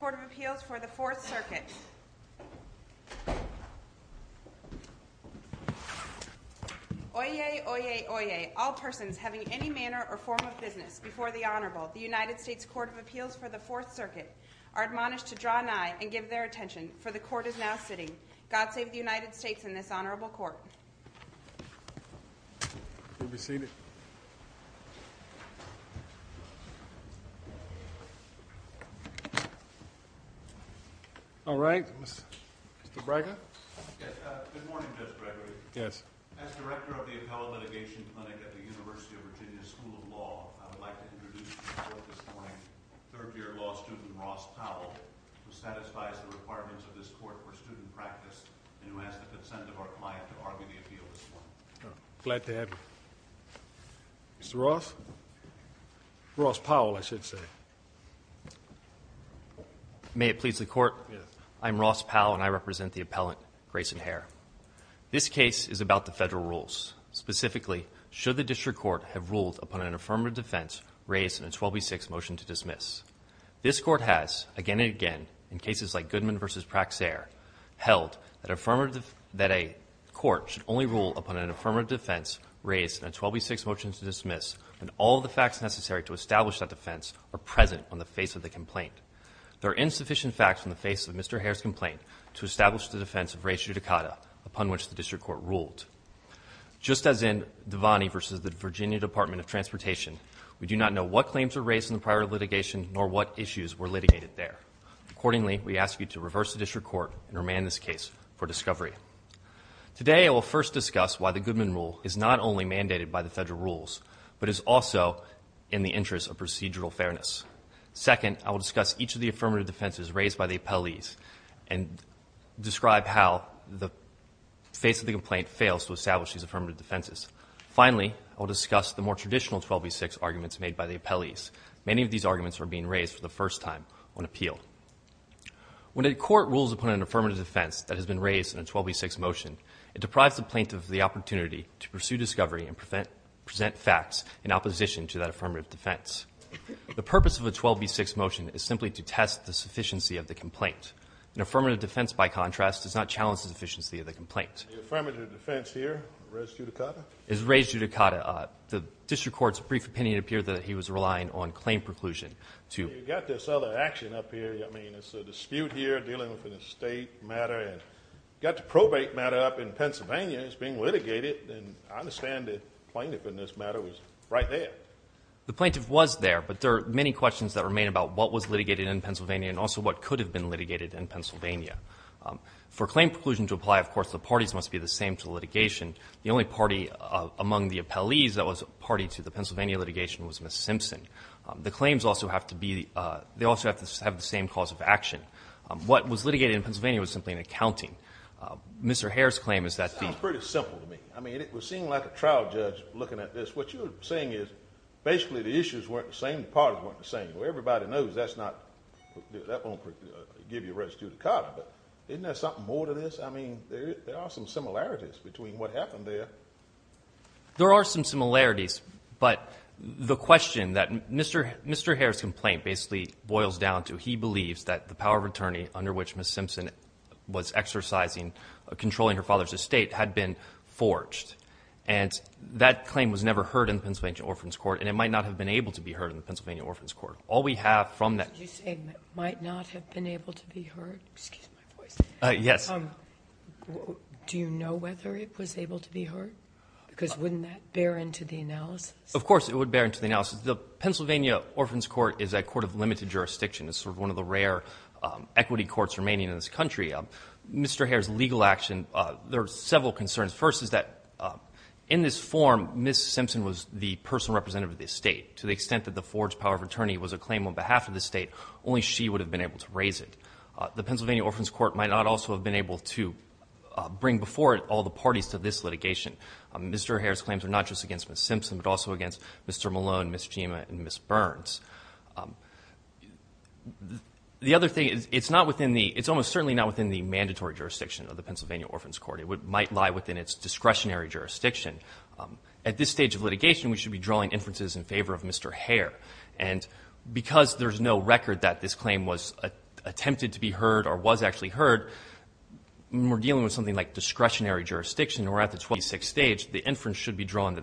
United States Court of Appeals for the Fourth Circuit. Oyez! Oyez! Oyez! All persons having any manner or form of business before the Honorable the United States Court of Appeals for the Fourth Circuit are admonished to draw an eye and give their attention, for the Court is now sitting. God save the United States and this Honorable Court. All right. Mr. Braggart? Good morning, Judge Gregory. As Director of the Appellate Litigation Clinic at the University of Virginia School of Law, I would like to introduce this morning's third-year law student, Ross Powell, who satisfies the requirements of this court for student practice and who has the consent of our client to argue the appeal this morning. Glad to have you. Mr. Ross? Ross Powell, I should say. May it please the Court? Yes. I'm Ross Powell and I represent the Appellant Grayson Hare. This case is about the Federal rules. Specifically, should the District Court have ruled upon an affirmative defense raised in a 12B6 motion to dismiss? This Court has, again and again, in cases like Goodman v. Praxair, held that a court should only rule upon an affirmative defense raised in a 12B6 motion to dismiss and all of the facts present on the face of the complaint. There are insufficient facts on the face of Mr. Hare's complaint to establish the defense of res judicata upon which the District Court ruled. Just as in Devaney v. the Virginia Department of Transportation, we do not know what claims were raised in the prior litigation nor what issues were litigated there. Accordingly, we ask you to reverse the District Court and remand this case for discovery. Today, I will first discuss why the Goodman rule is not only mandated by the Federal rules but is also in the interest of procedural fairness. Second, I will discuss each of the affirmative defenses raised by the appellees and describe how the face of the complaint fails to establish these affirmative defenses. Finally, I will discuss the more traditional 12B6 arguments made by the appellees. Many of these arguments are being raised for the first time on appeal. When a court rules upon an affirmative defense that has been raised in a 12B6 motion, it deprives the plaintiff of the opportunity to pursue discovery and present facts in opposition to that affirmative defense. The purpose of a 12B6 motion is simply to test the sufficiency of the complaint. An affirmative defense, by contrast, does not challenge the sufficiency of the complaint. The affirmative defense here, res judicata? It is res judicata. The District Court's brief opinion appeared that he was relying on claim preclusion to Well, you've got this other action up here. I mean, it's a dispute here dealing with a State matter. You've got the probate matter up in Pennsylvania that's being litigated, and I understand the plaintiff in this matter was right there. The plaintiff was there, but there are many questions that remain about what was litigated in Pennsylvania and also what could have been litigated in Pennsylvania. For claim preclusion to apply, of course, the parties must be the same to litigation. The only party among the appellees that was party to the Pennsylvania litigation was Ms. Simpson. The claims also have to be the they also have to have the same cause of action. What was litigated in Pennsylvania was simply an accounting. Mr. Herr's claim is that the Sounds pretty simple to me. I mean, it would seem like a trial judge looking at this. What you're saying is basically the issues weren't the same, the parties weren't the same. Well, everybody knows that won't give you res judicata, but isn't there something more to this? I mean, there are some similarities between what happened there. There are some similarities, but the question that Mr. Herr's complaint basically boils down to, he believes that the power of attorney under which Ms. Simpson was exercising controlling her father's estate had been forged. And that claim was never heard in Pennsylvania Orphan's Court, and it might not have been able to be heard in the Pennsylvania Orphan's Court. All we have from that You're saying it might not have been able to be heard? Excuse my voice. Yes. Do you know whether it was able to be heard? Because wouldn't that bear into the analysis? Of course, it would bear into the analysis. The Pennsylvania Orphan's Court is a court of limited jurisdiction. It's sort of one of the rare equity courts remaining in this country. Mr. Herr's legal action, there are several concerns. First is that in this form, Ms. Simpson was the personal representative of the estate. To the extent that the forged power of attorney was a claim on behalf of the estate, only she would have been able to raise it. The Pennsylvania Orphan's Court might not also have been able to bring before it all the parties to this litigation. Mr. Herr's claims are not just against Ms. Simpson, but also against Mr. Malone, Ms. Chima, and Ms. Burns. The other thing is, it's not within the, it's almost certainly not within the mandatory jurisdiction of the Pennsylvania Orphan's Court. It might lie within its discretionary jurisdiction. At this stage of litigation, we should be drawing inferences in favor of Mr. Herr. And because there's no record that this claim was attempted to be heard or was actually heard, when we're dealing with something like discretionary jurisdiction, we're at the 26th stage, the inference should be drawn that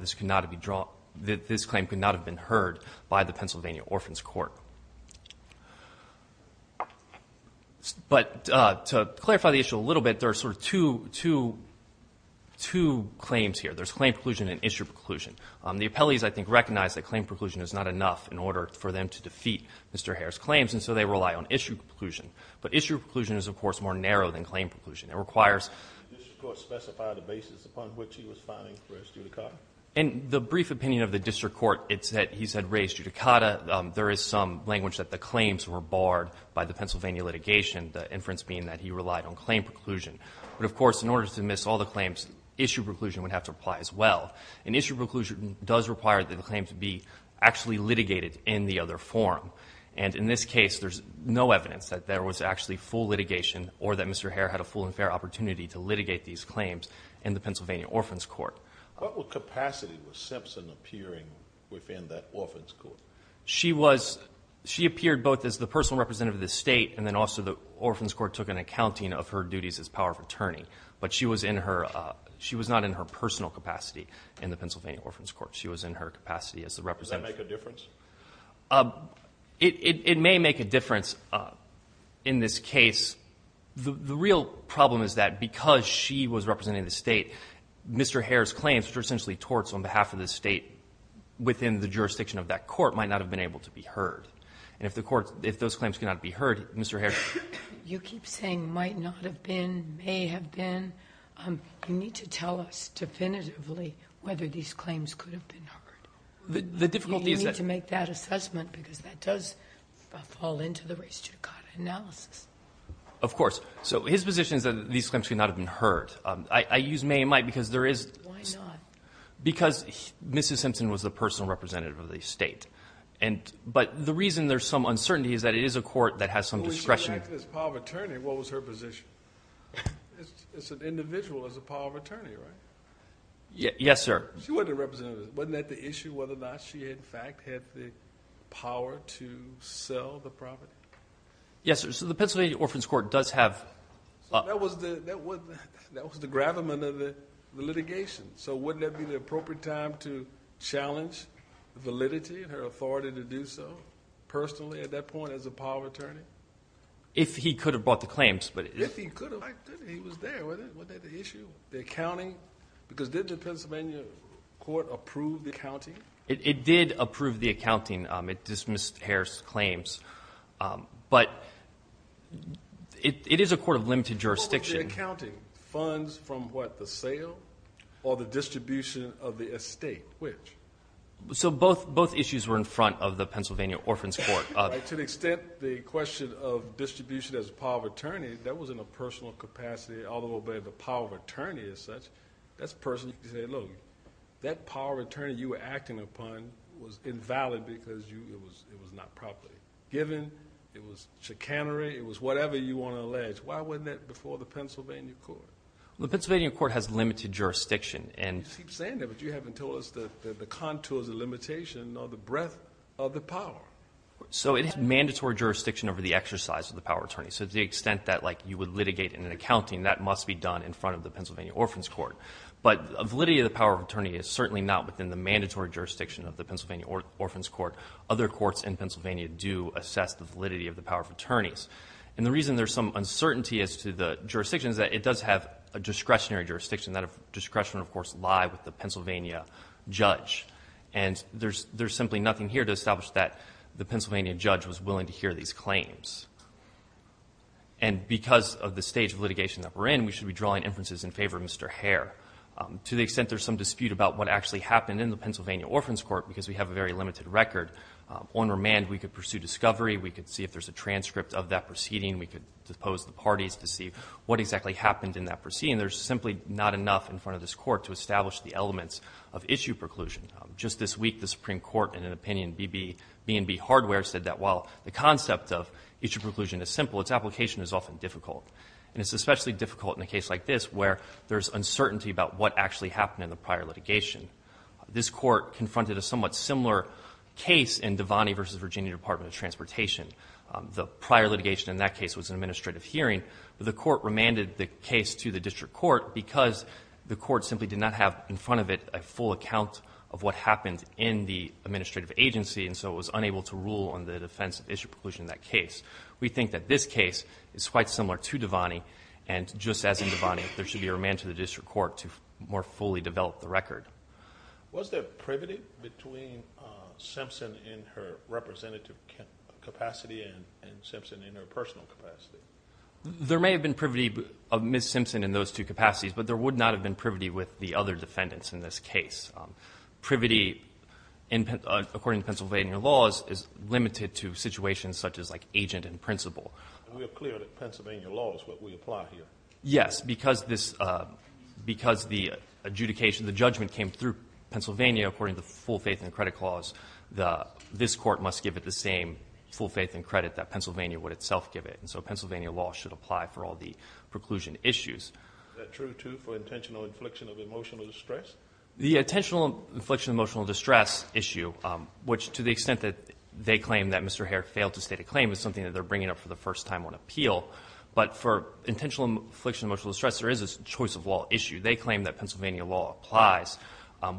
this claim could not have been heard by the Pennsylvania Orphan's Court. But to clarify the issue a little bit, there are sort of two claims here. There's claim preclusion and issue preclusion. The appellees, I think, recognize that claim preclusion is not enough in order for them to defeat Mr. Herr's claims, and so they rely on issue preclusion. But issue preclusion is, of course, more narrow than claim preclusion. It requires. And the brief opinion of the district court, it's that he said res judicata. There is some language that the claims were barred by the Pennsylvania litigation, the inference being that he relied on claim preclusion. But, of course, in order to dismiss all the claims, issue preclusion would have to apply as well. And issue preclusion does require the claim to be actually litigated in the other form. And in this case, there's no evidence that there was actually full litigation or that Mr. Herr had a full and fair opportunity to litigate these claims in the Pennsylvania Orphan's Court. What capacity was Simpson appearing within that orphan's court? She appeared both as the personal representative of the state and then also the orphan's court took an accounting of her duties as power of attorney. But she was not in her personal capacity in the Pennsylvania Orphan's Court. She was in her capacity as the representative. Does that make a difference? It may make a difference in this case. The real problem is that because she was representing the state, Mr. Herr's claims, which are essentially torts on behalf of the state within the jurisdiction of that court, might not have been able to be heard. And if those claims cannot be heard, Mr. Herr. You keep saying might not have been, may have been. You need to tell us definitively whether these claims could have been heard. You need to make that assessment because that does fall into the race judicata analysis. Of course. So his position is that these claims could not have been heard. I use may and might because there is. Why not? Because Mrs. Simpson was the personal representative of the state. But the reason there's some uncertainty is that it is a court that has some discretion. When she was acting as power of attorney, what was her position? As an individual as a power of attorney, right? Yes, sir. She wasn't a representative. Wasn't that the issue whether or not she, in fact, had the power to sell the property? Yes, sir. So the Pennsylvania Orphan's Court does have. That was the gravamen of the litigation. So wouldn't that be the appropriate time to challenge validity and her authority to do so personally at that point as a power of attorney? If he could have brought the claims. If he could have. He was there. Wasn't that the issue? The accounting? Because did the Pennsylvania court approve the accounting? It did approve the accounting. It dismissed Harris' claims. But it is a court of limited jurisdiction. What was the accounting? Funds from, what, the sale or the distribution of the estate? Which? So both issues were in front of the Pennsylvania Orphan's Court. To the extent the question of distribution as a power of attorney, that was in a personal capacity, although by the power of attorney as such, that's personal. You say, look, that power of attorney you were acting upon was invalid because it was not properly given. It was chicanery. It was whatever you want to allege. Why wasn't that before the Pennsylvania court? Well, the Pennsylvania court has limited jurisdiction. You keep saying that, but you haven't told us the contours of limitation or the breadth of the power. So it has mandatory jurisdiction over the exercise of the power of attorney. So to the extent that, like, you would litigate in an accounting, that must be done in front of the Pennsylvania Orphan's Court. But validity of the power of attorney is certainly not within the mandatory jurisdiction of the Pennsylvania Orphan's Court. Other courts in Pennsylvania do assess the validity of the power of attorneys. And the reason there's some uncertainty as to the jurisdiction is that it does have a discretionary jurisdiction. That discretion, of course, lie with the Pennsylvania judge. And there's simply nothing here to establish that the Pennsylvania judge was willing to hear these claims. And because of the stage of litigation that we're in, we should be drawing inferences in favor of Mr. Hare. To the extent there's some dispute about what actually happened in the Pennsylvania Orphan's Court, because we have a very limited record, on remand we could pursue discovery. We could see if there's a transcript of that proceeding. We could depose the parties to see what exactly happened in that proceeding. There's simply not enough in front of this Court to establish the elements of issue preclusion. Just this week, the Supreme Court, in an opinion B&B Hardware, said that while the concept of issue preclusion is simple, its application is often difficult. And it's especially difficult in a case like this where there's uncertainty about what actually happened in the prior litigation. This Court confronted a somewhat similar case in Devaney v. Virginia Department of Transportation. The prior litigation in that case was an administrative hearing. The Court remanded the case to the district court because the court simply did not have in front of it a full account of what happened in the administrative agency. And so it was unable to rule on the defense of issue preclusion in that case. We think that this case is quite similar to Devaney. And just as in Devaney, there should be a remand to the district court to more fully develop the record. Was there privity between Simpson in her representative capacity and Simpson in her personal capacity? There may have been privity of Ms. Simpson in those two capacities, but there would not have been privity with the other defendants in this case. Privity, according to Pennsylvania laws, is limited to situations such as, like, agent and principal. We are clear that Pennsylvania law is what we apply here. Yes, because the adjudication, the judgment came through Pennsylvania, according to the full faith and credit clause, this Court must give it the same full faith and credit that Pennsylvania would itself give it. And so Pennsylvania law should apply for all the preclusion issues. Is that true, too, for intentional infliction of emotional distress? The intentional infliction of emotional distress issue, which to the extent that they claim that Mr. But for intentional infliction of emotional distress, there is a choice of law issue. They claim that Pennsylvania law applies.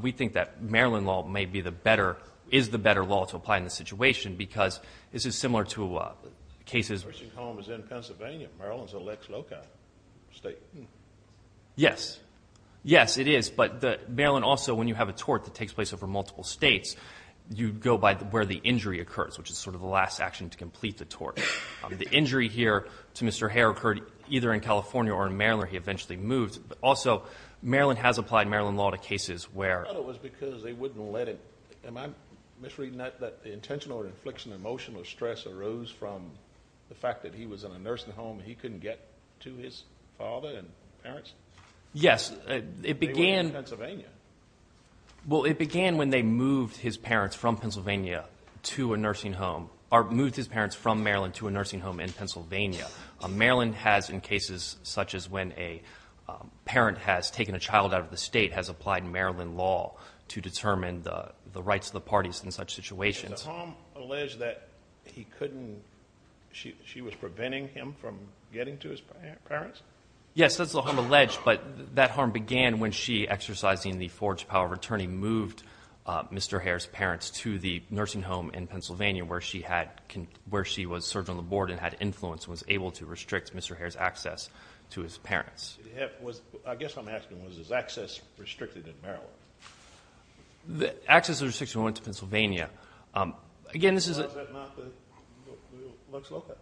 We think that Maryland law may be the better, is the better law to apply in this situation because this is similar to cases. The person's home is in Pennsylvania. Maryland's an ex loci state. Yes. Yes, it is. But Maryland also, when you have a tort that takes place over multiple states, you go by where the injury occurs, which is sort of the last action to complete the tort. The injury here to Mr. Hare occurred either in California or in Maryland where he eventually moved. Also, Maryland has applied Maryland law to cases where. I thought it was because they wouldn't let him. Am I misreading that, that the intentional infliction of emotional stress arose from the fact that he was in a nursing home and he couldn't get to his father and parents? Yes. They were in Pennsylvania. Well, it began when they moved his parents from Pennsylvania to a nursing home, or moved his parents from Maryland to a nursing home in Pennsylvania. Maryland has, in cases such as when a parent has taken a child out of the state, has applied Maryland law to determine the rights of the parties in such situations. Is the harm alleged that he couldn't, she was preventing him from getting to his parents? Yes. That's the harm alleged. But that harm began when she, exercising the forged power of attorney, moved Mr. Hare's parents to the nursing home in Pennsylvania where she was served on the board and had influence and was able to restrict Mr. Hare's access to his parents. I guess I'm asking, was his access restricted in Maryland? Access was restricted when he went to Pennsylvania. Again, this is a... How is that not what looks local?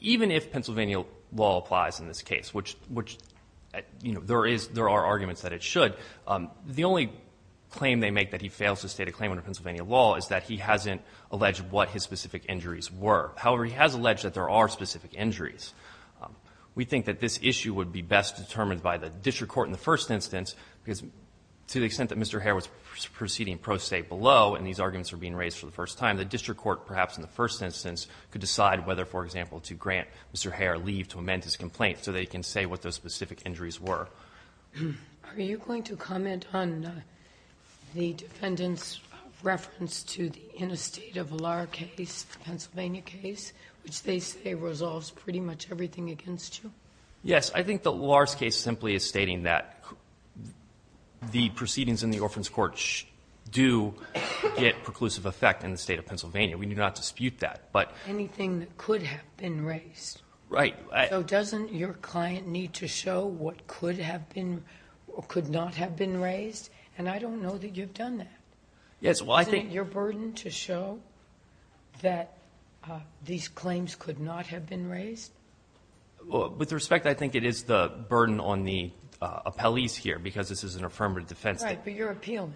Even if Pennsylvania law applies in this case, which, you know, there are arguments that it should, the only claim they make that he fails to state a claim under Pennsylvania law is that he hasn't alleged what his specific injuries were. However, he has alleged that there are specific injuries. We think that this issue would be best determined by the district court in the first instance, because to the extent that Mr. Hare was proceeding pro se below and these arguments were being raised for the first time, the district court, perhaps in the first instance, could decide whether, for example, to grant Mr. Hare leave to amend his complaint so that he can say what those specific injuries were. Are you going to comment on the defendant's reference to the interstate of Lahr case, the Pennsylvania case, which they say resolves pretty much everything against you? Yes. I think that Lahr's case simply is stating that the proceedings in the Orphan's do get preclusive effect in the State of Pennsylvania. We do not dispute that. Anything that could have been raised. Right. So doesn't your client need to show what could have been or could not have been raised? And I don't know that you've done that. Yes. Isn't it your burden to show that these claims could not have been raised? With respect, I think it is the burden on the appellees here, because this is an affirmative defense. Right. But you're appealing,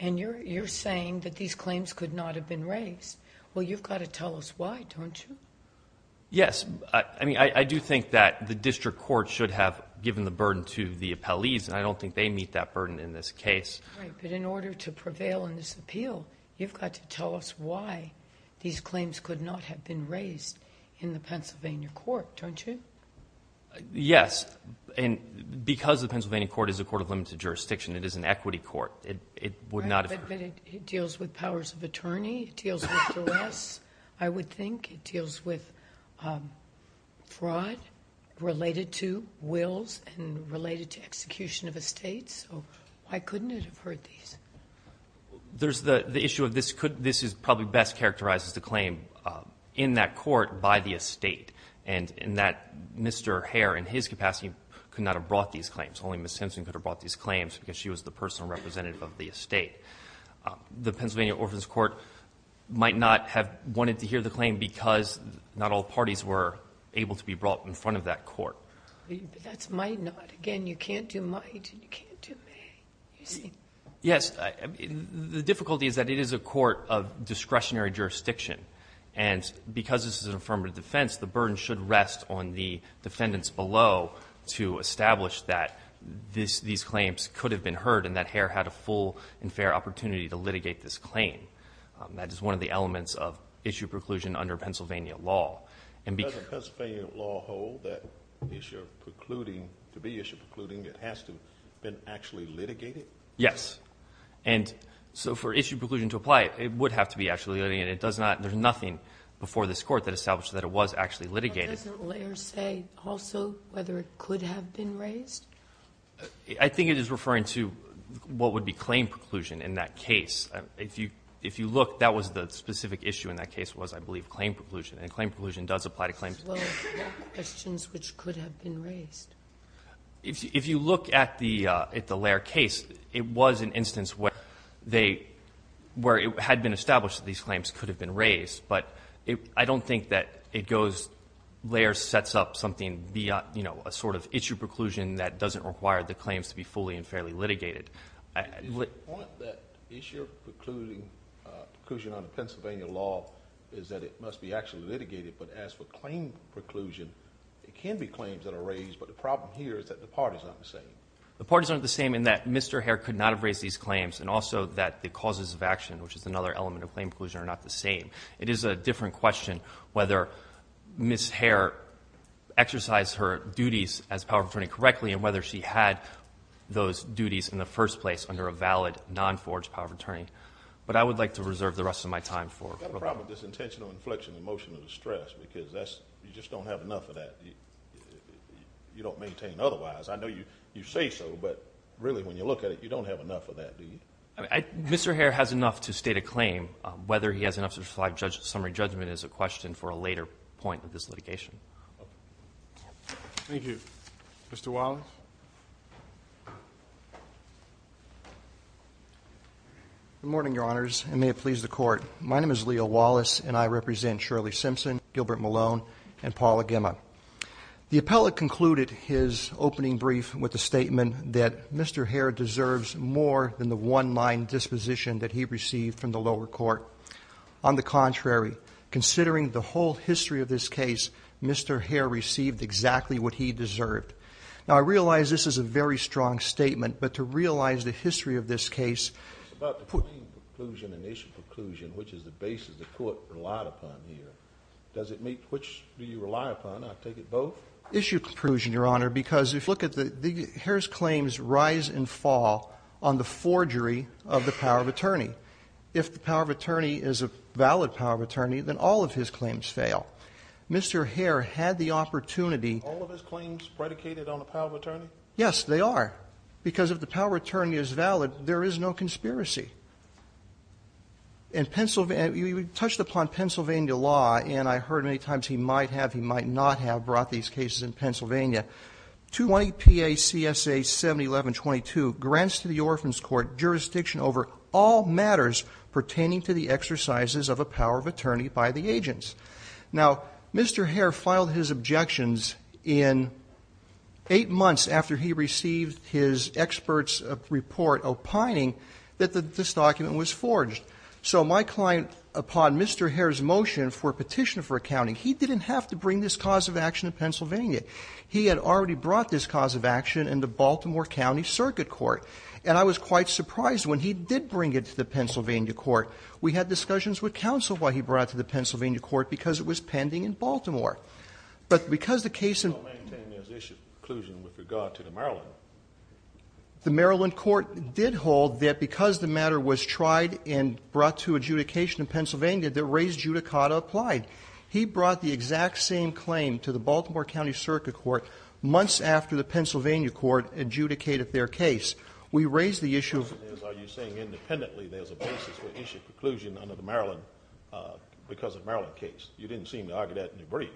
and you're saying that these claims could not have been raised. Well, you've got to tell us why, don't you? Yes. I mean, I do think that the district court should have given the burden to the appellees, and I don't think they meet that burden in this case. Right. But in order to prevail in this appeal, you've got to tell us why these claims could not have been raised in the Pennsylvania court, don't you? Yes. And because the Pennsylvania court is a court of limited jurisdiction, it is an equity court, it would not have been. Right. But it deals with powers of attorney. It deals with duress, I would think. It deals with fraud related to wills and related to execution of estates. So why couldn't it have heard these? The issue of this is probably best characterized as the claim in that court by the estate, and that Mr. Hare, in his capacity, could not have brought these claims. Only Ms. Simpson could have brought these claims because she was the personal representative of the estate. The Pennsylvania Orphanage Court might not have wanted to hear the claim because not all parties were able to be brought in front of that court. But that's might not. Again, you can't do might and you can't do may. You see? Yes. The difficulty is that it is a court of discretionary jurisdiction, and because this is an affirmative defense, the burden should rest on the defendants below to establish that these claims could have been heard and that Hare had a full and fair opportunity to litigate this claim. That is one of the elements of issue preclusion under Pennsylvania law. Does the Pennsylvania law hold that the issue of precluding, to be issue precluding, it has to have been actually litigated? Yes. And so for issue preclusion to apply, it would have to be actually litigated. And it does not, there's nothing before this court that establishes that it was actually litigated. But doesn't Lair say also whether it could have been raised? I think it is referring to what would be claim preclusion in that case. If you look, that was the specific issue in that case was, I believe, claim preclusion. And claim preclusion does apply to claims. As well as questions which could have been raised. If you look at the Lair case, it was an instance where they, where it had been established that these claims could have been raised. But I don't think that it goes, Lair sets up something beyond, you know, a sort of issue preclusion that doesn't require the claims to be fully and fairly litigated. The point that issue precluding, preclusion under Pennsylvania law is that it must be actually litigated. But as for claim preclusion, it can be claims that are raised. But the problem here is that the parties aren't the same. The parties aren't the same in that Mr. Hare could not have raised these claims. And also that the causes of action, which is another element of claim preclusion, are not the same. It is a different question whether Ms. Hare exercised her duties as power of attorney correctly. And whether she had those duties in the first place under a valid, non-forged power of attorney. But I would like to reserve the rest of my time for. I've got a problem with this intentional inflection and emotional distress. Because that's, you just don't have enough of that. You don't maintain otherwise. I know you say so. But really, when you look at it, you don't have enough of that, do you? Mr. Hare has enough to state a claim. Whether he has enough to provide summary judgment is a question for a later point of this litigation. Thank you. Mr. Wallace? Good morning, Your Honors, and may it please the Court. My name is Leo Wallace, and I represent Shirley Simpson, Gilbert Malone, and Paula Gemma. The appellate concluded his opening brief with the statement that Mr. Hare deserves more than the one-line disposition that he received from the lower court. On the contrary, considering the whole history of this case, Mr. Hare received exactly what he deserved. Now, I realize this is a very strong statement, but to realize the history of this case. It's about the claim preclusion and issue preclusion, which is the basis the Court relied upon here. Does it meet? Which do you rely upon? I take it both? Issue preclusion, Your Honor, because if you look at the Hare's claims rise and fall on the forgery of the power of attorney. If the power of attorney is a valid power of attorney, then all of his claims fail. Mr. Hare had the opportunity. Are all of his claims predicated on the power of attorney? Yes, they are. Because if the power of attorney is valid, there is no conspiracy. In Pennsylvania, we touched upon Pennsylvania law, and I heard many times he might have, he might not have brought these cases in Pennsylvania. 20 PACSA 71122 grants to the Orphan's Court jurisdiction over all matters pertaining to the exercises of a power of attorney by the agents. Now, Mr. Hare filed his objections in eight months after he received his expert's report opining that this document was forged. So my client, upon Mr. Hare's motion for a petition for accounting, he didn't have to bring this cause of action to Pennsylvania. He had already brought this cause of action in the Baltimore County Circuit Court. And I was quite surprised when he did bring it to the Pennsylvania court. We had discussions with counsel why he brought it to the Pennsylvania court, because it was pending in Baltimore. But because the case in the Maryland court did hold that it was pending in Baltimore, that because the matter was tried and brought to adjudication in Pennsylvania, the raised judicata applied. He brought the exact same claim to the Baltimore County Circuit Court months after the Pennsylvania court adjudicated their case. We raised the issue of – Are you saying independently there's a basis for issue of preclusion under the Maryland, because of Maryland case? You didn't seem to argue that in your brief.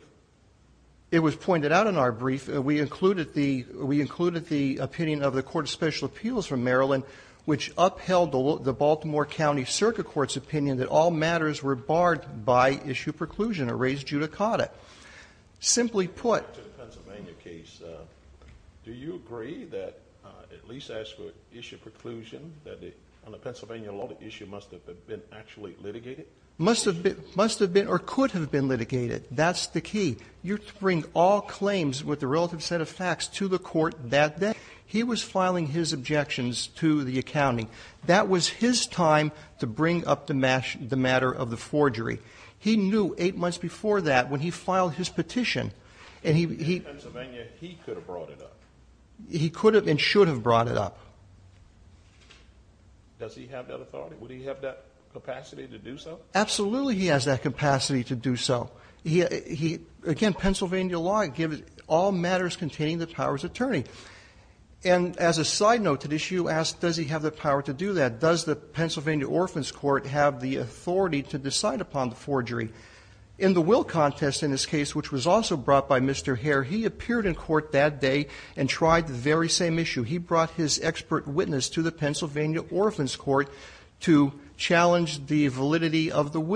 It was pointed out in our brief. We included the opinion of the Court of Special Appeals from Maryland, which upheld the Baltimore County Circuit Court's opinion that all matters were barred by issue of preclusion or raised judicata. Simply put – To the Pennsylvania case, do you agree that at least as for issue of preclusion, that on the Pennsylvania law the issue must have been actually litigated? Must have been or could have been litigated. That's the key. You bring all claims with the relative set of facts to the court that day. He was filing his objections to the accounting. That was his time to bring up the matter of the forgery. He knew eight months before that when he filed his petition – In Pennsylvania, he could have brought it up. He could have and should have brought it up. Does he have that authority? Would he have that capacity to do so? Absolutely he has that capacity to do so. He – again, Pennsylvania law gives all matters containing the power of attorney. And as a side note to this, you asked does he have the power to do that. Does the Pennsylvania Orphan's Court have the authority to decide upon the forgery? In the will contest in this case, which was also brought by Mr. Hare, he appeared in court that day and tried the very same issue. He brought his expert witness to the Pennsylvania Orphan's Court to challenge the validity of the will.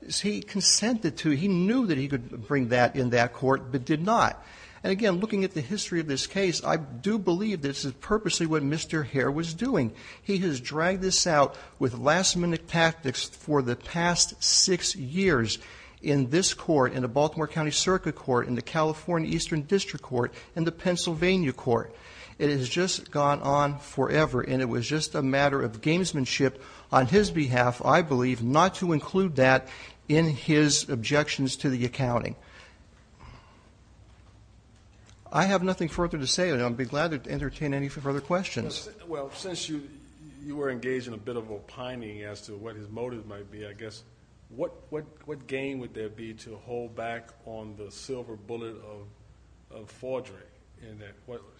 Well, he consented to – he knew that he could bring that in that court but did not. And again, looking at the history of this case, I do believe this is purposely what Mr. Hare was doing. He has dragged this out with last-minute tactics for the past six years in this court, in the Baltimore County Circuit Court, in the California Eastern District Court, in the Pennsylvania Court. It has just gone on forever and it was just a matter of gamesmanship on his behalf, I believe, not to include that in his objections to the accounting. I have nothing further to say. I'd be glad to entertain any further questions. Well, since you were engaged in a bit of opining as to what his motive might be, I guess, what game would there be to hold back on the silver bullet of forgery?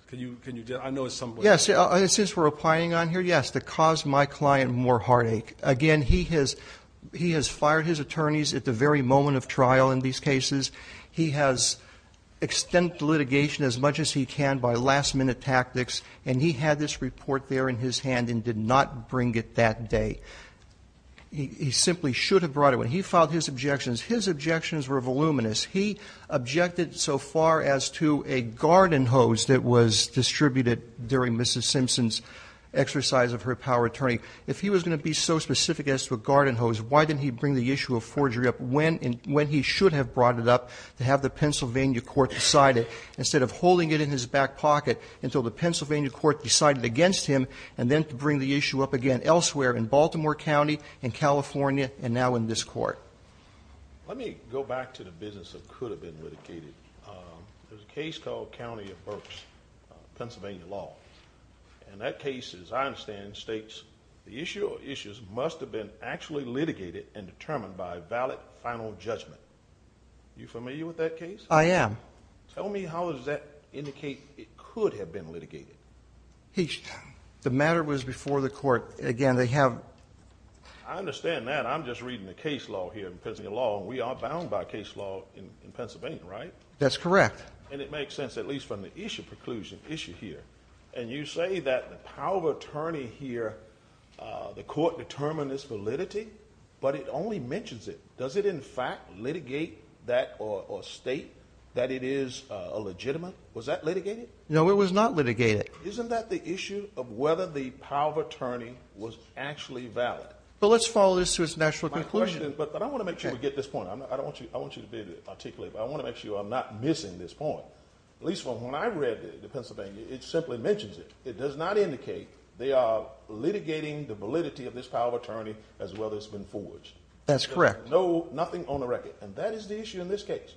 Can you – I know it's something – Yes, since we're opining on here, yes, to cause my client more heartache. Again, he has fired his attorneys at the very moment of trial in these cases. He has extended litigation as much as he can by last-minute tactics, and he had this report there in his hand and did not bring it that day. He simply should have brought it. When he filed his objections, his objections were voluminous. He objected so far as to a garden hose that was distributed during Mrs. Simpson's exercise of her power of attorney. If he was going to be so specific as to a garden hose, why didn't he bring the issue of forgery up when he should have brought it up to have the Pennsylvania court decide it instead of holding it in his back pocket until the Pennsylvania court decided against him and then to bring the issue up again elsewhere in Baltimore County, in California, and now in this court? Let me go back to the business of could have been litigated. There's a case called County of Berks, Pennsylvania law. That case, as I understand, states the issue or issues must have been actually litigated and determined by a valid final judgment. Are you familiar with that case? I am. Tell me how does that indicate it could have been litigated? The matter was before the court. Again, they have to have a case. I understand that. I'm just reading the case law here. In Pennsylvania law, we are bound by case law in Pennsylvania, right? That's correct. It makes sense, at least from the issue preclusion issue here. You say that the power of attorney here, the court determined this validity, but it only mentions it. Does it, in fact, litigate that or state that it is a legitimate? Was that litigated? No, it was not litigated. Isn't that the issue of whether the power of attorney was actually valid? Let's follow this to its natural conclusion. I want to make sure we get this point. I don't want you to be articulated, but I want to make sure I'm not missing this point, at least from when I read the Pennsylvania. It simply mentions it. It does not indicate they are litigating the validity of this power of attorney as well as it's been forged. That's correct. No, nothing on the record. And that is the issue in this case.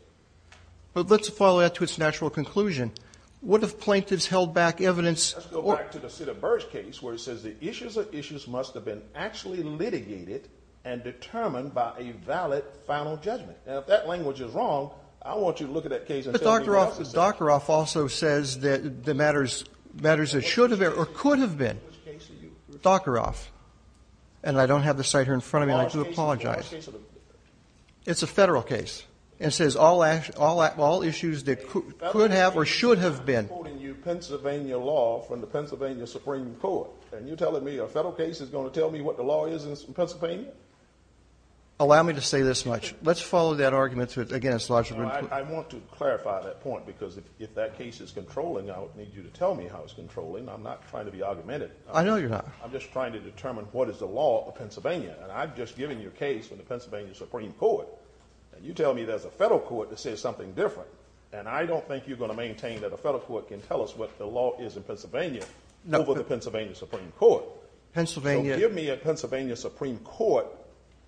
But let's follow that to its natural conclusion. What if plaintiffs held back evidence? Let's go back to the Cedar Burge case, where it says the issues of issues must have been actually litigated and determined by a valid final judgment. Now, if that language is wrong, I want you to look at that case and tell me what it says. But Dr. Roff also says that the matters that should have or could have been. Which case are you? Dr. Roff. And I don't have the site here in front of me, and I do apologize. It's a federal case. It says all issues that could have or should have been. I'm quoting you Pennsylvania law from the Pennsylvania Supreme Court, and you're telling me a federal case is going to tell me what the law is in Pennsylvania? Allow me to say this much. Let's follow that argument to its logical conclusion. I want to clarify that point, because if that case is controlling, I would need you to tell me how it's controlling. I'm not trying to be argumentative. I know you're not. I'm just trying to determine what is the law of Pennsylvania. And I've just given you a case from the Pennsylvania Supreme Court, and you tell me there's a federal court that says something different. And I don't think you're going to maintain that a federal court can tell us what the law is in Pennsylvania over the Pennsylvania Supreme Court. Pennsylvania. Give me a Pennsylvania Supreme Court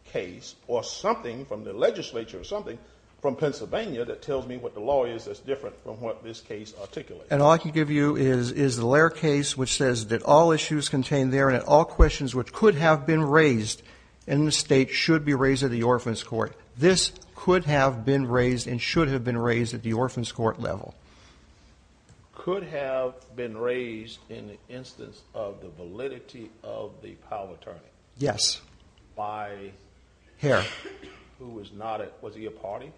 case or something from the legislature or something from Pennsylvania that tells me what the law is that's different from what this case articulates. And all I can give you is the Lair case, which says that all issues contained there and all questions which could have been raised in the state should be raised at the Orphan's Court. This could have been raised and should have been raised at the Orphan's Court level. Could have been raised in the instance of the validity of the power of attorney? Yes. By? Here. Who was not at, was he a party?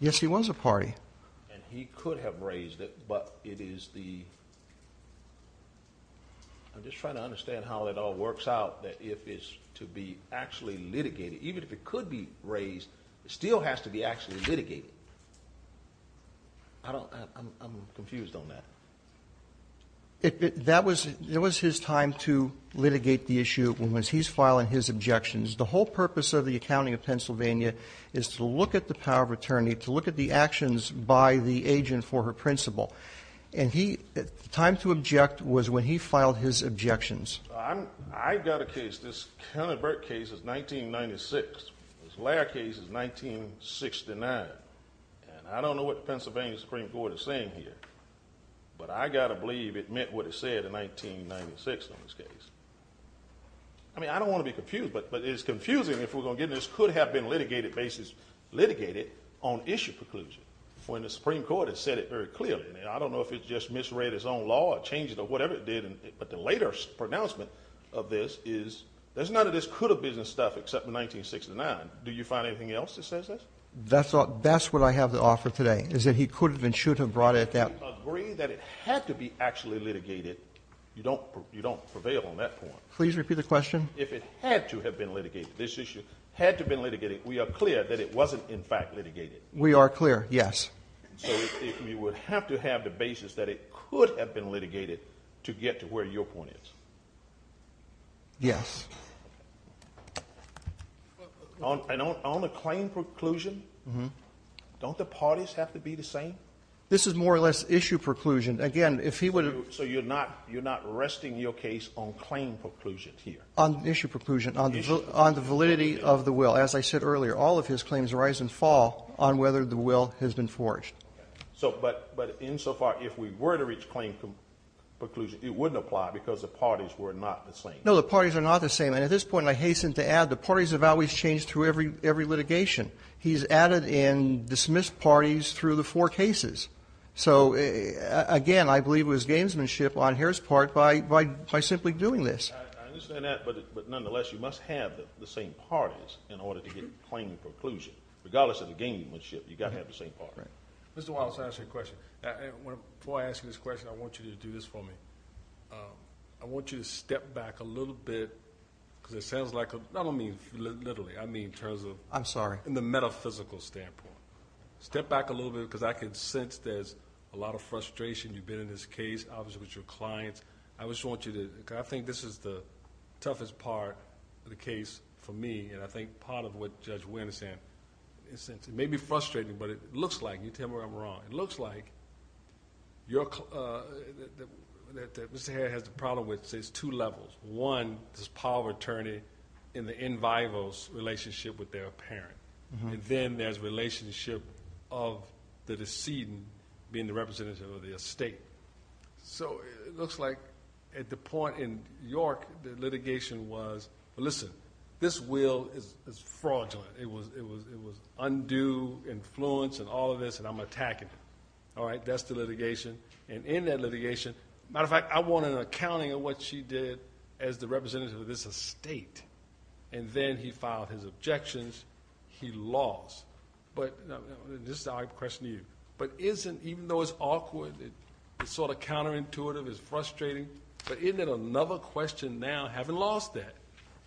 Yes, he was a party. And he could have raised it, but it is the. I'm just trying to understand how it all works out, that if it's to be actually litigated, even if it could be raised, it still has to be actually litigated. I don't, I'm confused on that. That was, it was his time to litigate the issue when was he's filing his objections. The whole purpose of the accounting of Pennsylvania is to look at the power of attorney, to look at the actions by the agent for her principal. And he, the time to object was when he filed his objections. I got a case. This kind of bird case is 1996. This layer case is 1969. And I don't know what Pennsylvania Supreme Court is saying here, but I got to believe it meant what it said in 1996 on this case. I mean, I don't want to be confused, but it's confusing if we're going to get this could have been litigated basis, litigated on issue preclusion. When the Supreme Court has said it very clearly. I don't know if it just misread his own law or changed it or whatever it did. But the later pronouncement of this is there's none of this could have been litigated. I don't know what the issue is and stuff, except for 1969. Do you find anything else that says that's all? That's what I have to offer today is that he could have been, should have brought it that way that it had to be actually litigated. You don't, you don't prevail on that. Please repeat the question. If it had to have been litigated, this issue had to been litigated. We are clear that it wasn't in fact litigated. We are clear. Yes. You would have to have the basis that it could have been litigated. To get to where your point is. Yes. And on the claim preclusion, don't the parties have to be the same? This is more or less issue preclusion. Again, if he would have. So you're not, you're not resting your case on claim preclusion here. On issue preclusion. On the validity of the will. As I said earlier, all of his claims rise and fall on whether the will has been forged. So, but, but insofar, if we were to reach claim preclusion, it wouldn't apply because the parties were not the same. No, the parties are not the same. And at this point, I hasten to add, the parties have always changed through every litigation. He's added in dismissed parties through the four cases. So, again, I believe it was gamesmanship on his part by simply doing this. I understand that, but nonetheless, you must have the same parties in order to get claim preclusion. Regardless of the gamesmanship, you've got to have the same party. Mr. Wallace, I have a question. Before I ask you this question, I want you to do this for me. I want you to step back a little bit because it sounds like... I don't mean literally. I mean in terms of... I'm sorry. In the metaphysical standpoint. Step back a little bit because I can sense there's a lot of frustration. You've been in this case, obviously, with your clients. I just want you to... I think this is the toughest part of the case for me, and I think part of what Judge Wynn is saying. It may be frustrating, but it looks like... You tell me where I'm wrong. It looks like Mr. Harris has a problem with two levels. One, this power of attorney in the in vivo relationship with their parent. Then there's relationship of the decedent being the representative of the estate. It looks like at the point in York, the litigation was... Listen, this will is fraudulent. It was undue influence and all of this, and I'm attacking it. All right, that's the litigation, and in that litigation... Matter of fact, I want an accounting of what she did as the representative of this estate, and then he filed his objections. He lost. This is how I question you, but isn't... Even though it's awkward, it's sort of counterintuitive, it's frustrating, but isn't it another question now, having lost that,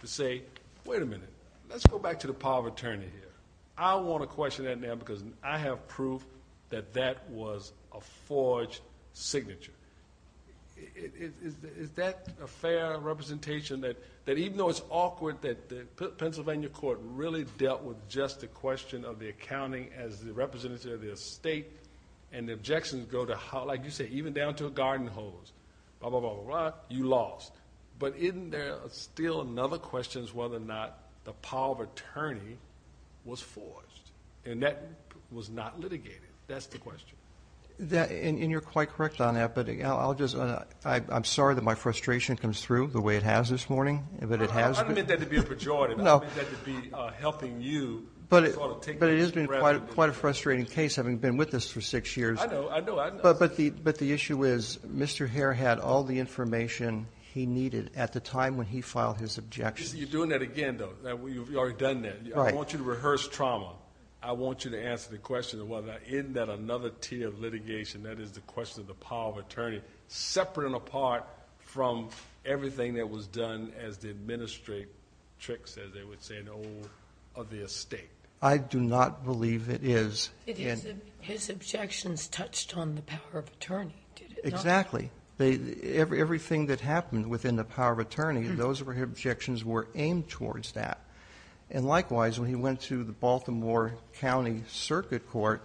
to say, wait a minute, let's go back to the power of attorney here. I want to question that now, because I have proof that that was a forged signature. Is that a fair representation, that even though it's awkward, that the Pennsylvania court really dealt with just the question of the accounting as the representative of the estate, and the objections go to how... Like you said, even down to a garden hose, blah, blah, blah, blah, blah, you lost. But isn't there still another question as to whether or not the power of attorney was forged, and that was not litigated? That's the question. You're quite correct on that, but I'm sorry that my frustration comes through the way it has this morning. I didn't mean that to be a pejorative. I meant that to be helping you sort of take... But it has been quite a frustrating case, having been with us for six years. I know, I know. But the issue is Mr. Hare had all the information he needed at the time when he filed his objections. You're doing that again, though. You've already done that. I want you to rehearse trauma. I want you to answer the question of whether or not isn't that another tier of litigation, that is the question of the power of attorney, separate and apart from everything that was done as the administratrix, as they would say, of the estate. I do not believe it is. His objections touched on the power of attorney, did it not? Exactly. Everything that happened within the power of attorney, those objections were aimed towards that. And likewise, when he went to the Baltimore County Circuit Court,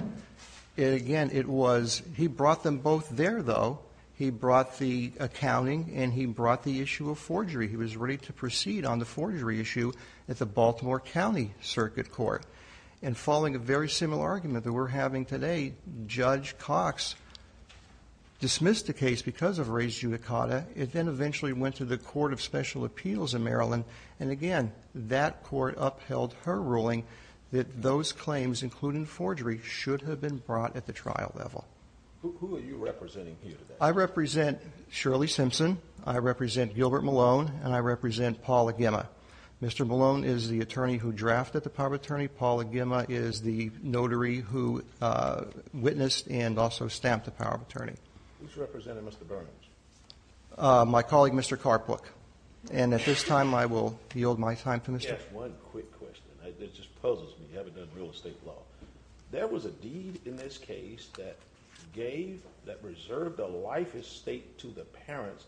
again, it was... He brought them both there, though. He brought the accounting, and he brought the issue of forgery. He was ready to proceed on the forgery issue at the Baltimore County Circuit Court. And following a very similar argument that we're having today, Judge Cox dismissed the case because of res judicata. It then eventually went to the Court of Special Appeals in Maryland. And again, that court upheld her ruling that those claims, including forgery, should have been brought at the trial level. Who are you representing here today? I represent Shirley Simpson. I represent Gilbert Malone. And I represent Paula Gemma. Mr. Malone is the attorney who drafted the power of attorney. Paula Gemma is the notary who witnessed and also stamped the power of attorney. Who's representing Mr. Burns? My colleague, Mr. Carpook. And at this time, I will yield my time to Mr.... Just one quick question. This just puzzles me. You haven't done real estate law. There was a deed in this case that gave, that reserved a life estate to the parents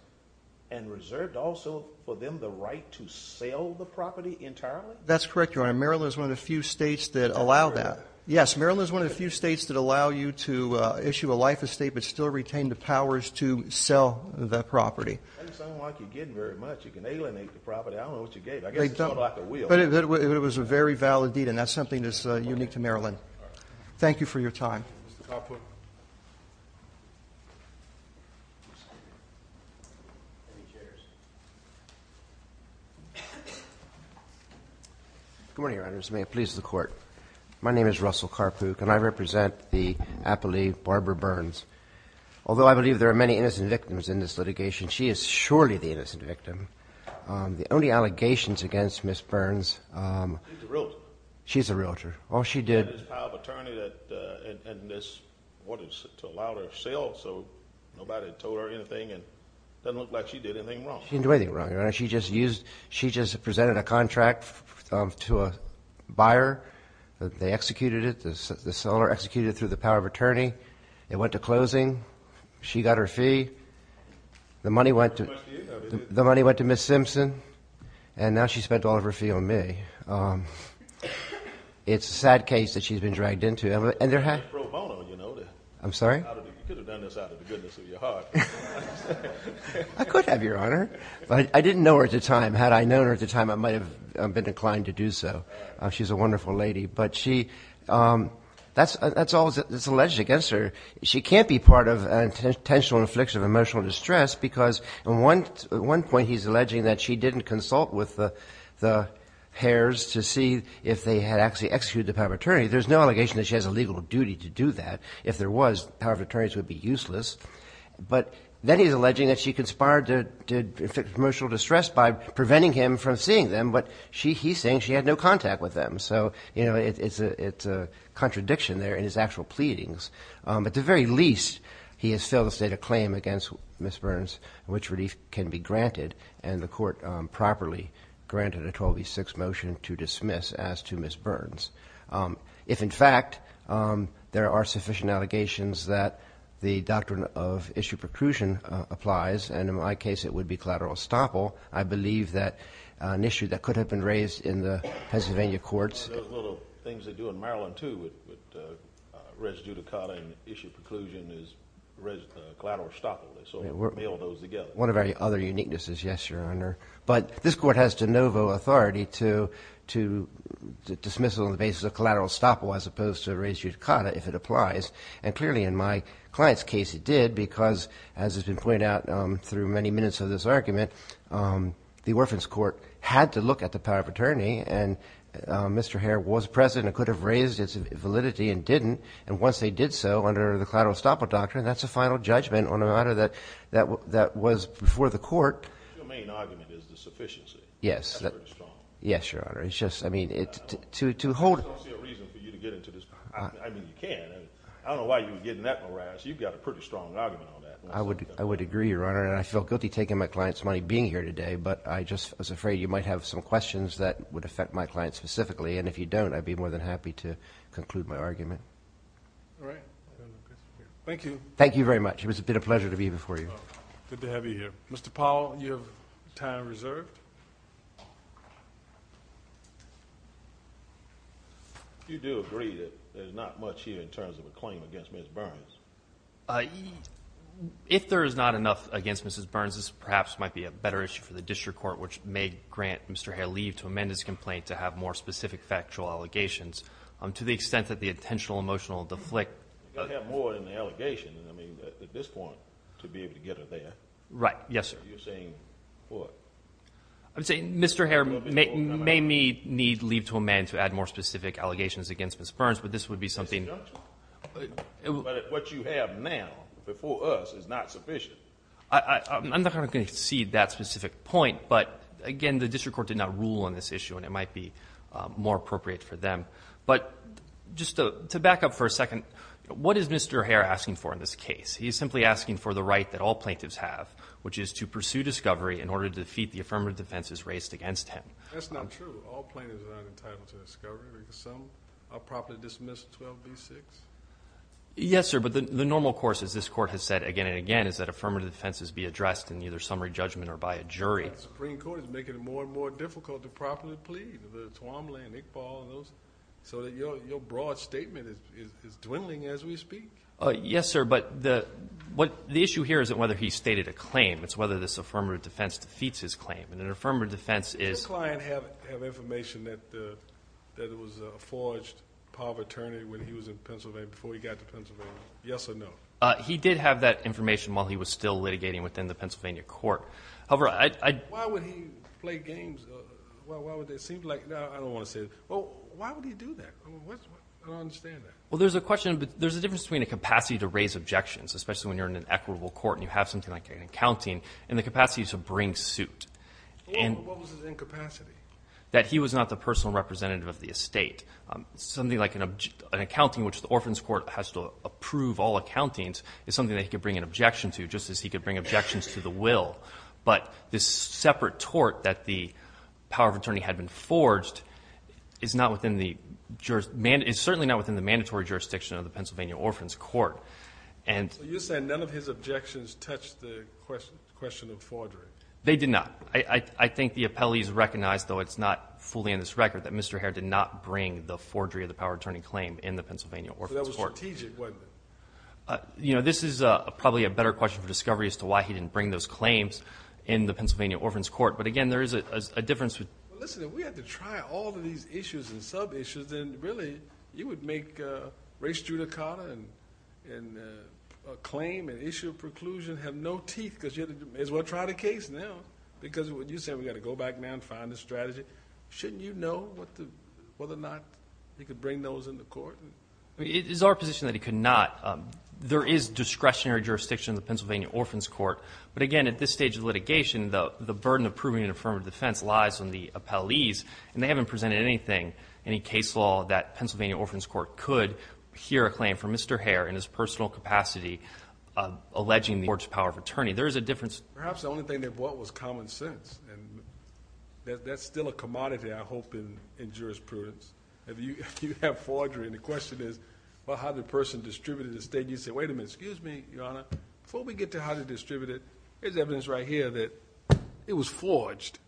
and reserved also for them the right to sell the property entirely? That's correct, Your Honor. Maryland is one of the few states that allow that. Yes, Maryland is one of the few states that allow you to issue a life estate but still retain the powers to sell the property. That doesn't sound like you're getting very much. You can alienate the property. I don't know what you gave. I guess it's more like a will. But it was a very valid deed, and that's something that's unique to Maryland. Thank you for your time. Mr. Carpook. Good morning, Your Honor. May it please the Court. My name is Russell Carpook, and I represent the appellee Barbara Burns. Although I believe there are many innocent victims in this litigation, she is surely the innocent victim. The only allegations against Ms. Burns. She's a realtor. She's a realtor. All she did. She had this power of attorney that wanted to allow her to sell, so nobody told her anything. It doesn't look like she did anything wrong. She didn't do anything wrong, Your Honor. She just presented a contract to a buyer. They executed it. The seller executed it through the power of attorney. It went to closing. She got her fee. The money went to Ms. Simpson, and now she's spent all of her fee on me. It's a sad case that she's been dragged into. I'm sorry? You could have done this out of the goodness of your heart. I could have, Your Honor. But I didn't know her at the time. Had I known her at the time, I might have been inclined to do so. She's a wonderful lady. But that's all that's alleged against her. She can't be part of an intentional infliction of emotional distress because, at one point, he's alleging that she didn't consult with the Hares to see if they had actually executed the power of attorney. There's no allegation that she has a legal duty to do that. If there was, the power of attorneys would be useless. But then he's alleging that she conspired to inflict emotional distress by preventing him from seeing them, but he's saying she had no contact with them. So, you know, it's a contradiction there in his actual pleadings. At the very least, he has filled a state of claim against Ms. Burns, which relief can be granted, and the court properly granted a 12B6 motion to dismiss as to Ms. Burns. If, in fact, there are sufficient allegations that the doctrine of issue preclusion applies, and in my case it would be collateral estoppel, I believe that an issue that could have been raised in the Pennsylvania courts. Those little things they do in Maryland, too, with res judicata and issue preclusion is collateral estoppel. They sort of mill those together. One of our other uniquenesses, yes, Your Honor. But this court has de novo authority to dismiss it on the basis of collateral estoppel as opposed to res judicata if it applies. And clearly in my client's case it did because, as has been pointed out through many minutes of this argument, the Orphans Court had to look at the power of attorney, and Mr. Hare was present and could have raised its validity and didn't. And once they did so under the collateral estoppel doctrine, that's a final judgment on a matter that was before the court. Your main argument is the sufficiency. Yes. That's very strong. Yes, Your Honor. I don't see a reason for you to get into this. I mean, you can. I don't know why you would get in that morass. You've got a pretty strong argument on that. I would agree, Your Honor, and I feel guilty taking my client's money being here today, but I just was afraid you might have some questions that would affect my client specifically. And if you don't, I'd be more than happy to conclude my argument. All right. Thank you. Thank you very much. It's been a pleasure to be before you. Good to have you here. Mr. Powell, you have time reserved. You do agree that there's not much here in terms of a claim against Ms. Burns. If there is not enough against Mrs. Burns, this perhaps might be a better issue for the district court, which may grant Mr. Hare leave to amend his complaint to have more specific factual allegations to the extent that the intentional emotional deflect. You've got to have more than the allegation, I mean, at this point, to be able to get her there. Right. Yes, sir. So you're saying what? I'm saying Mr. Hare may need leave to amend to add more specific allegations against Ms. Burns, but this would be something. But what you have now before us is not sufficient. I'm not going to concede that specific point, but, again, the district court did not rule on this issue and it might be more appropriate for them. But just to back up for a second, what is Mr. Hare asking for in this case? He is simply asking for the right that all plaintiffs have, which is to pursue discovery in order to defeat the affirmative defenses raised against him. That's not true. All plaintiffs are not entitled to discovery. Some are properly dismissed 12b-6. Yes, sir, but the normal course, as this Court has said again and again, is that affirmative defenses be addressed in either summary judgment or by a jury. The Supreme Court is making it more and more difficult to properly plead, the Twombly and Iqbal and those, so your broad statement is dwindling as we speak. Yes, sir, but the issue here isn't whether he stated a claim. It's whether this affirmative defense defeats his claim. And an affirmative defense is ---- Did the client have information that it was a forged power of attorney when he was in Pennsylvania, before he got to Pennsylvania? Yes or no? He did have that information while he was still litigating within the Pennsylvania court. However, I ---- Why would he play games? It seems like, no, I don't want to say that. Why would he do that? I don't understand that. Well, there's a question. There's a difference between a capacity to raise objections, especially when you're in an equitable court and you have something like an accounting, and the capacity to bring suit. And ---- What was his incapacity? That he was not the personal representative of the estate. Something like an accounting which the Orphan's Court has to approve all accountings is something that he could bring an objection to, just as he could bring objections to the will. But this separate tort that the power of attorney had been forged is not within the ---- It's certainly not within the mandatory jurisdiction of the Pennsylvania Orphan's Court. And ---- So you're saying none of his objections touched the question of forgery? They did not. I think the appellees recognize, though it's not fully in this record, that Mr. Hare did not bring the forgery of the power of attorney claim in the Pennsylvania Orphan's Court. But that was strategic, wasn't it? You know, this is probably a better question for discovery as to why he didn't bring those claims in the Pennsylvania Orphan's Court. But, again, there is a difference. Well, listen, if we had to try all of these issues and sub-issues, then really you would make race judicata and a claim, an issue of preclusion, have no teeth because you may as well try the case now. Because when you say we've got to go back now and find the strategy, shouldn't you know whether or not he could bring those in the court? It is our position that he could not. There is discretionary jurisdiction in the Pennsylvania Orphan's Court. But, again, at this stage of litigation, the burden of proving an affirmative defense lies on the appellees. And they haven't presented anything, any case law that Pennsylvania Orphan's Court could hear a claim from Mr. Hare in his personal capacity alleging the forged power of attorney. There is a difference. Perhaps the only thing they brought was common sense. And that's still a commodity, I hope, in jurisprudence. If you have forgery and the question is, well, how did the person distribute it in the state? And you say, wait a minute, excuse me, Your Honor, before we get to how they distributed it, there's evidence right here that it was forged.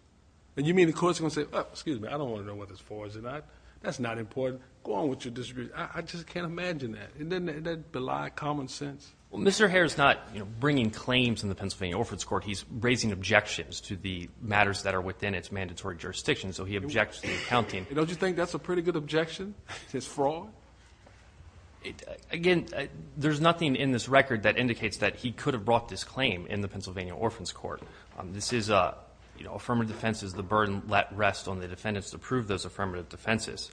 And you mean the court is going to say, oh, excuse me, I don't want to know whether it's forged or not. That's not important. Go on with your distribution. I just can't imagine that. Isn't that belied common sense? Well, Mr. Hare is not bringing claims in the Pennsylvania Orphan's Court. He's raising objections to the matters that are within its mandatory jurisdiction. So he objects to the accounting. Don't you think that's a pretty good objection, his fraud? Again, there's nothing in this record that indicates that he could have brought this claim in the Pennsylvania Orphan's Court. This is affirmative defense is the burden let rest on the defendants to prove those affirmative defenses.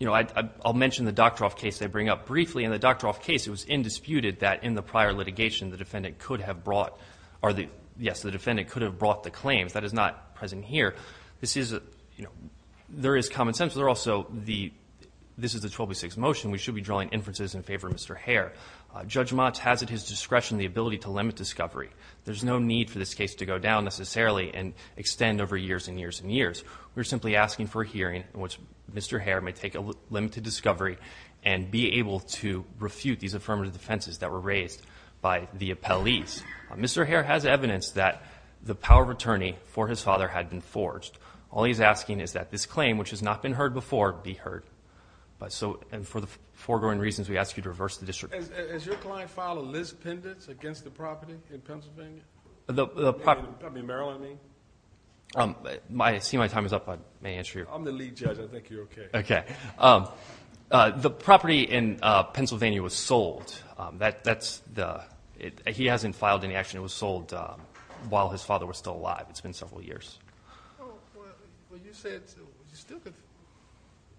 I'll mention the Doctroff case they bring up briefly. In the Doctroff case, it was indisputed that in the prior litigation, the defendant could have brought the claims. That is not present here. There is common sense. This is the 1206 motion. We should be drawing inferences in favor of Mr. Hare. Judge Motz has at his discretion the ability to limit discovery. There's no need for this case to go down necessarily and extend over years and years and years. We're simply asking for a hearing in which Mr. Hare may take a limited discovery and be able to refute these affirmative defenses that were raised by the appellees. Mr. Hare has evidence that the power of attorney for his father had been forged. All he's asking is that this claim, which has not been heard before, be heard. For the foregoing reasons, we ask you to reverse the district. Has your client filed a list pendant against the property in Pennsylvania? I mean Maryland, I mean. I see my time is up. May I answer your question? I'm the lead judge. I think you're okay. The property in Pennsylvania was sold. He hasn't filed any action. It was sold while his father was still alive. It's been several years. Well, you said you still could.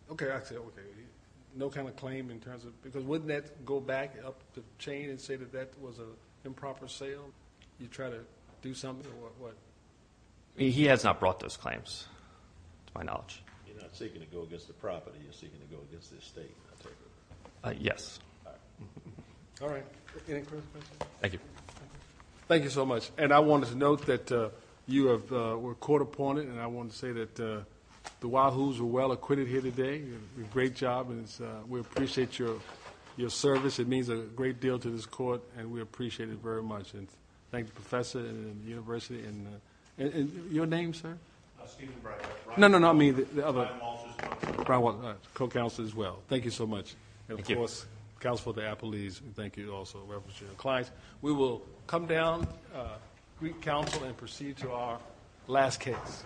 Okay, I say okay. No kind of claim in terms of. Because wouldn't that go back up the chain and say that that was an improper sale? You try to do something or what? He has not brought those claims to my knowledge. You're not seeking to go against the property. You're seeking to go against the estate. Yes. All right. Any further questions? Thank you. Thank you so much. And I wanted to note that you were court appointed. And I wanted to say that the Wahoos are well acquitted here today. Great job. And we appreciate your service. It means a great deal to this court. And we appreciate it very much. And thank the professor and the university. And your name, sir? Steven Bright. No, no, no. I mean the other. Brian Walters. Brian Walters. Co-counselor as well. Thank you so much. And, of course, counsel for the Appalese. Thank you also. We will come down. We counsel and proceed to our last case.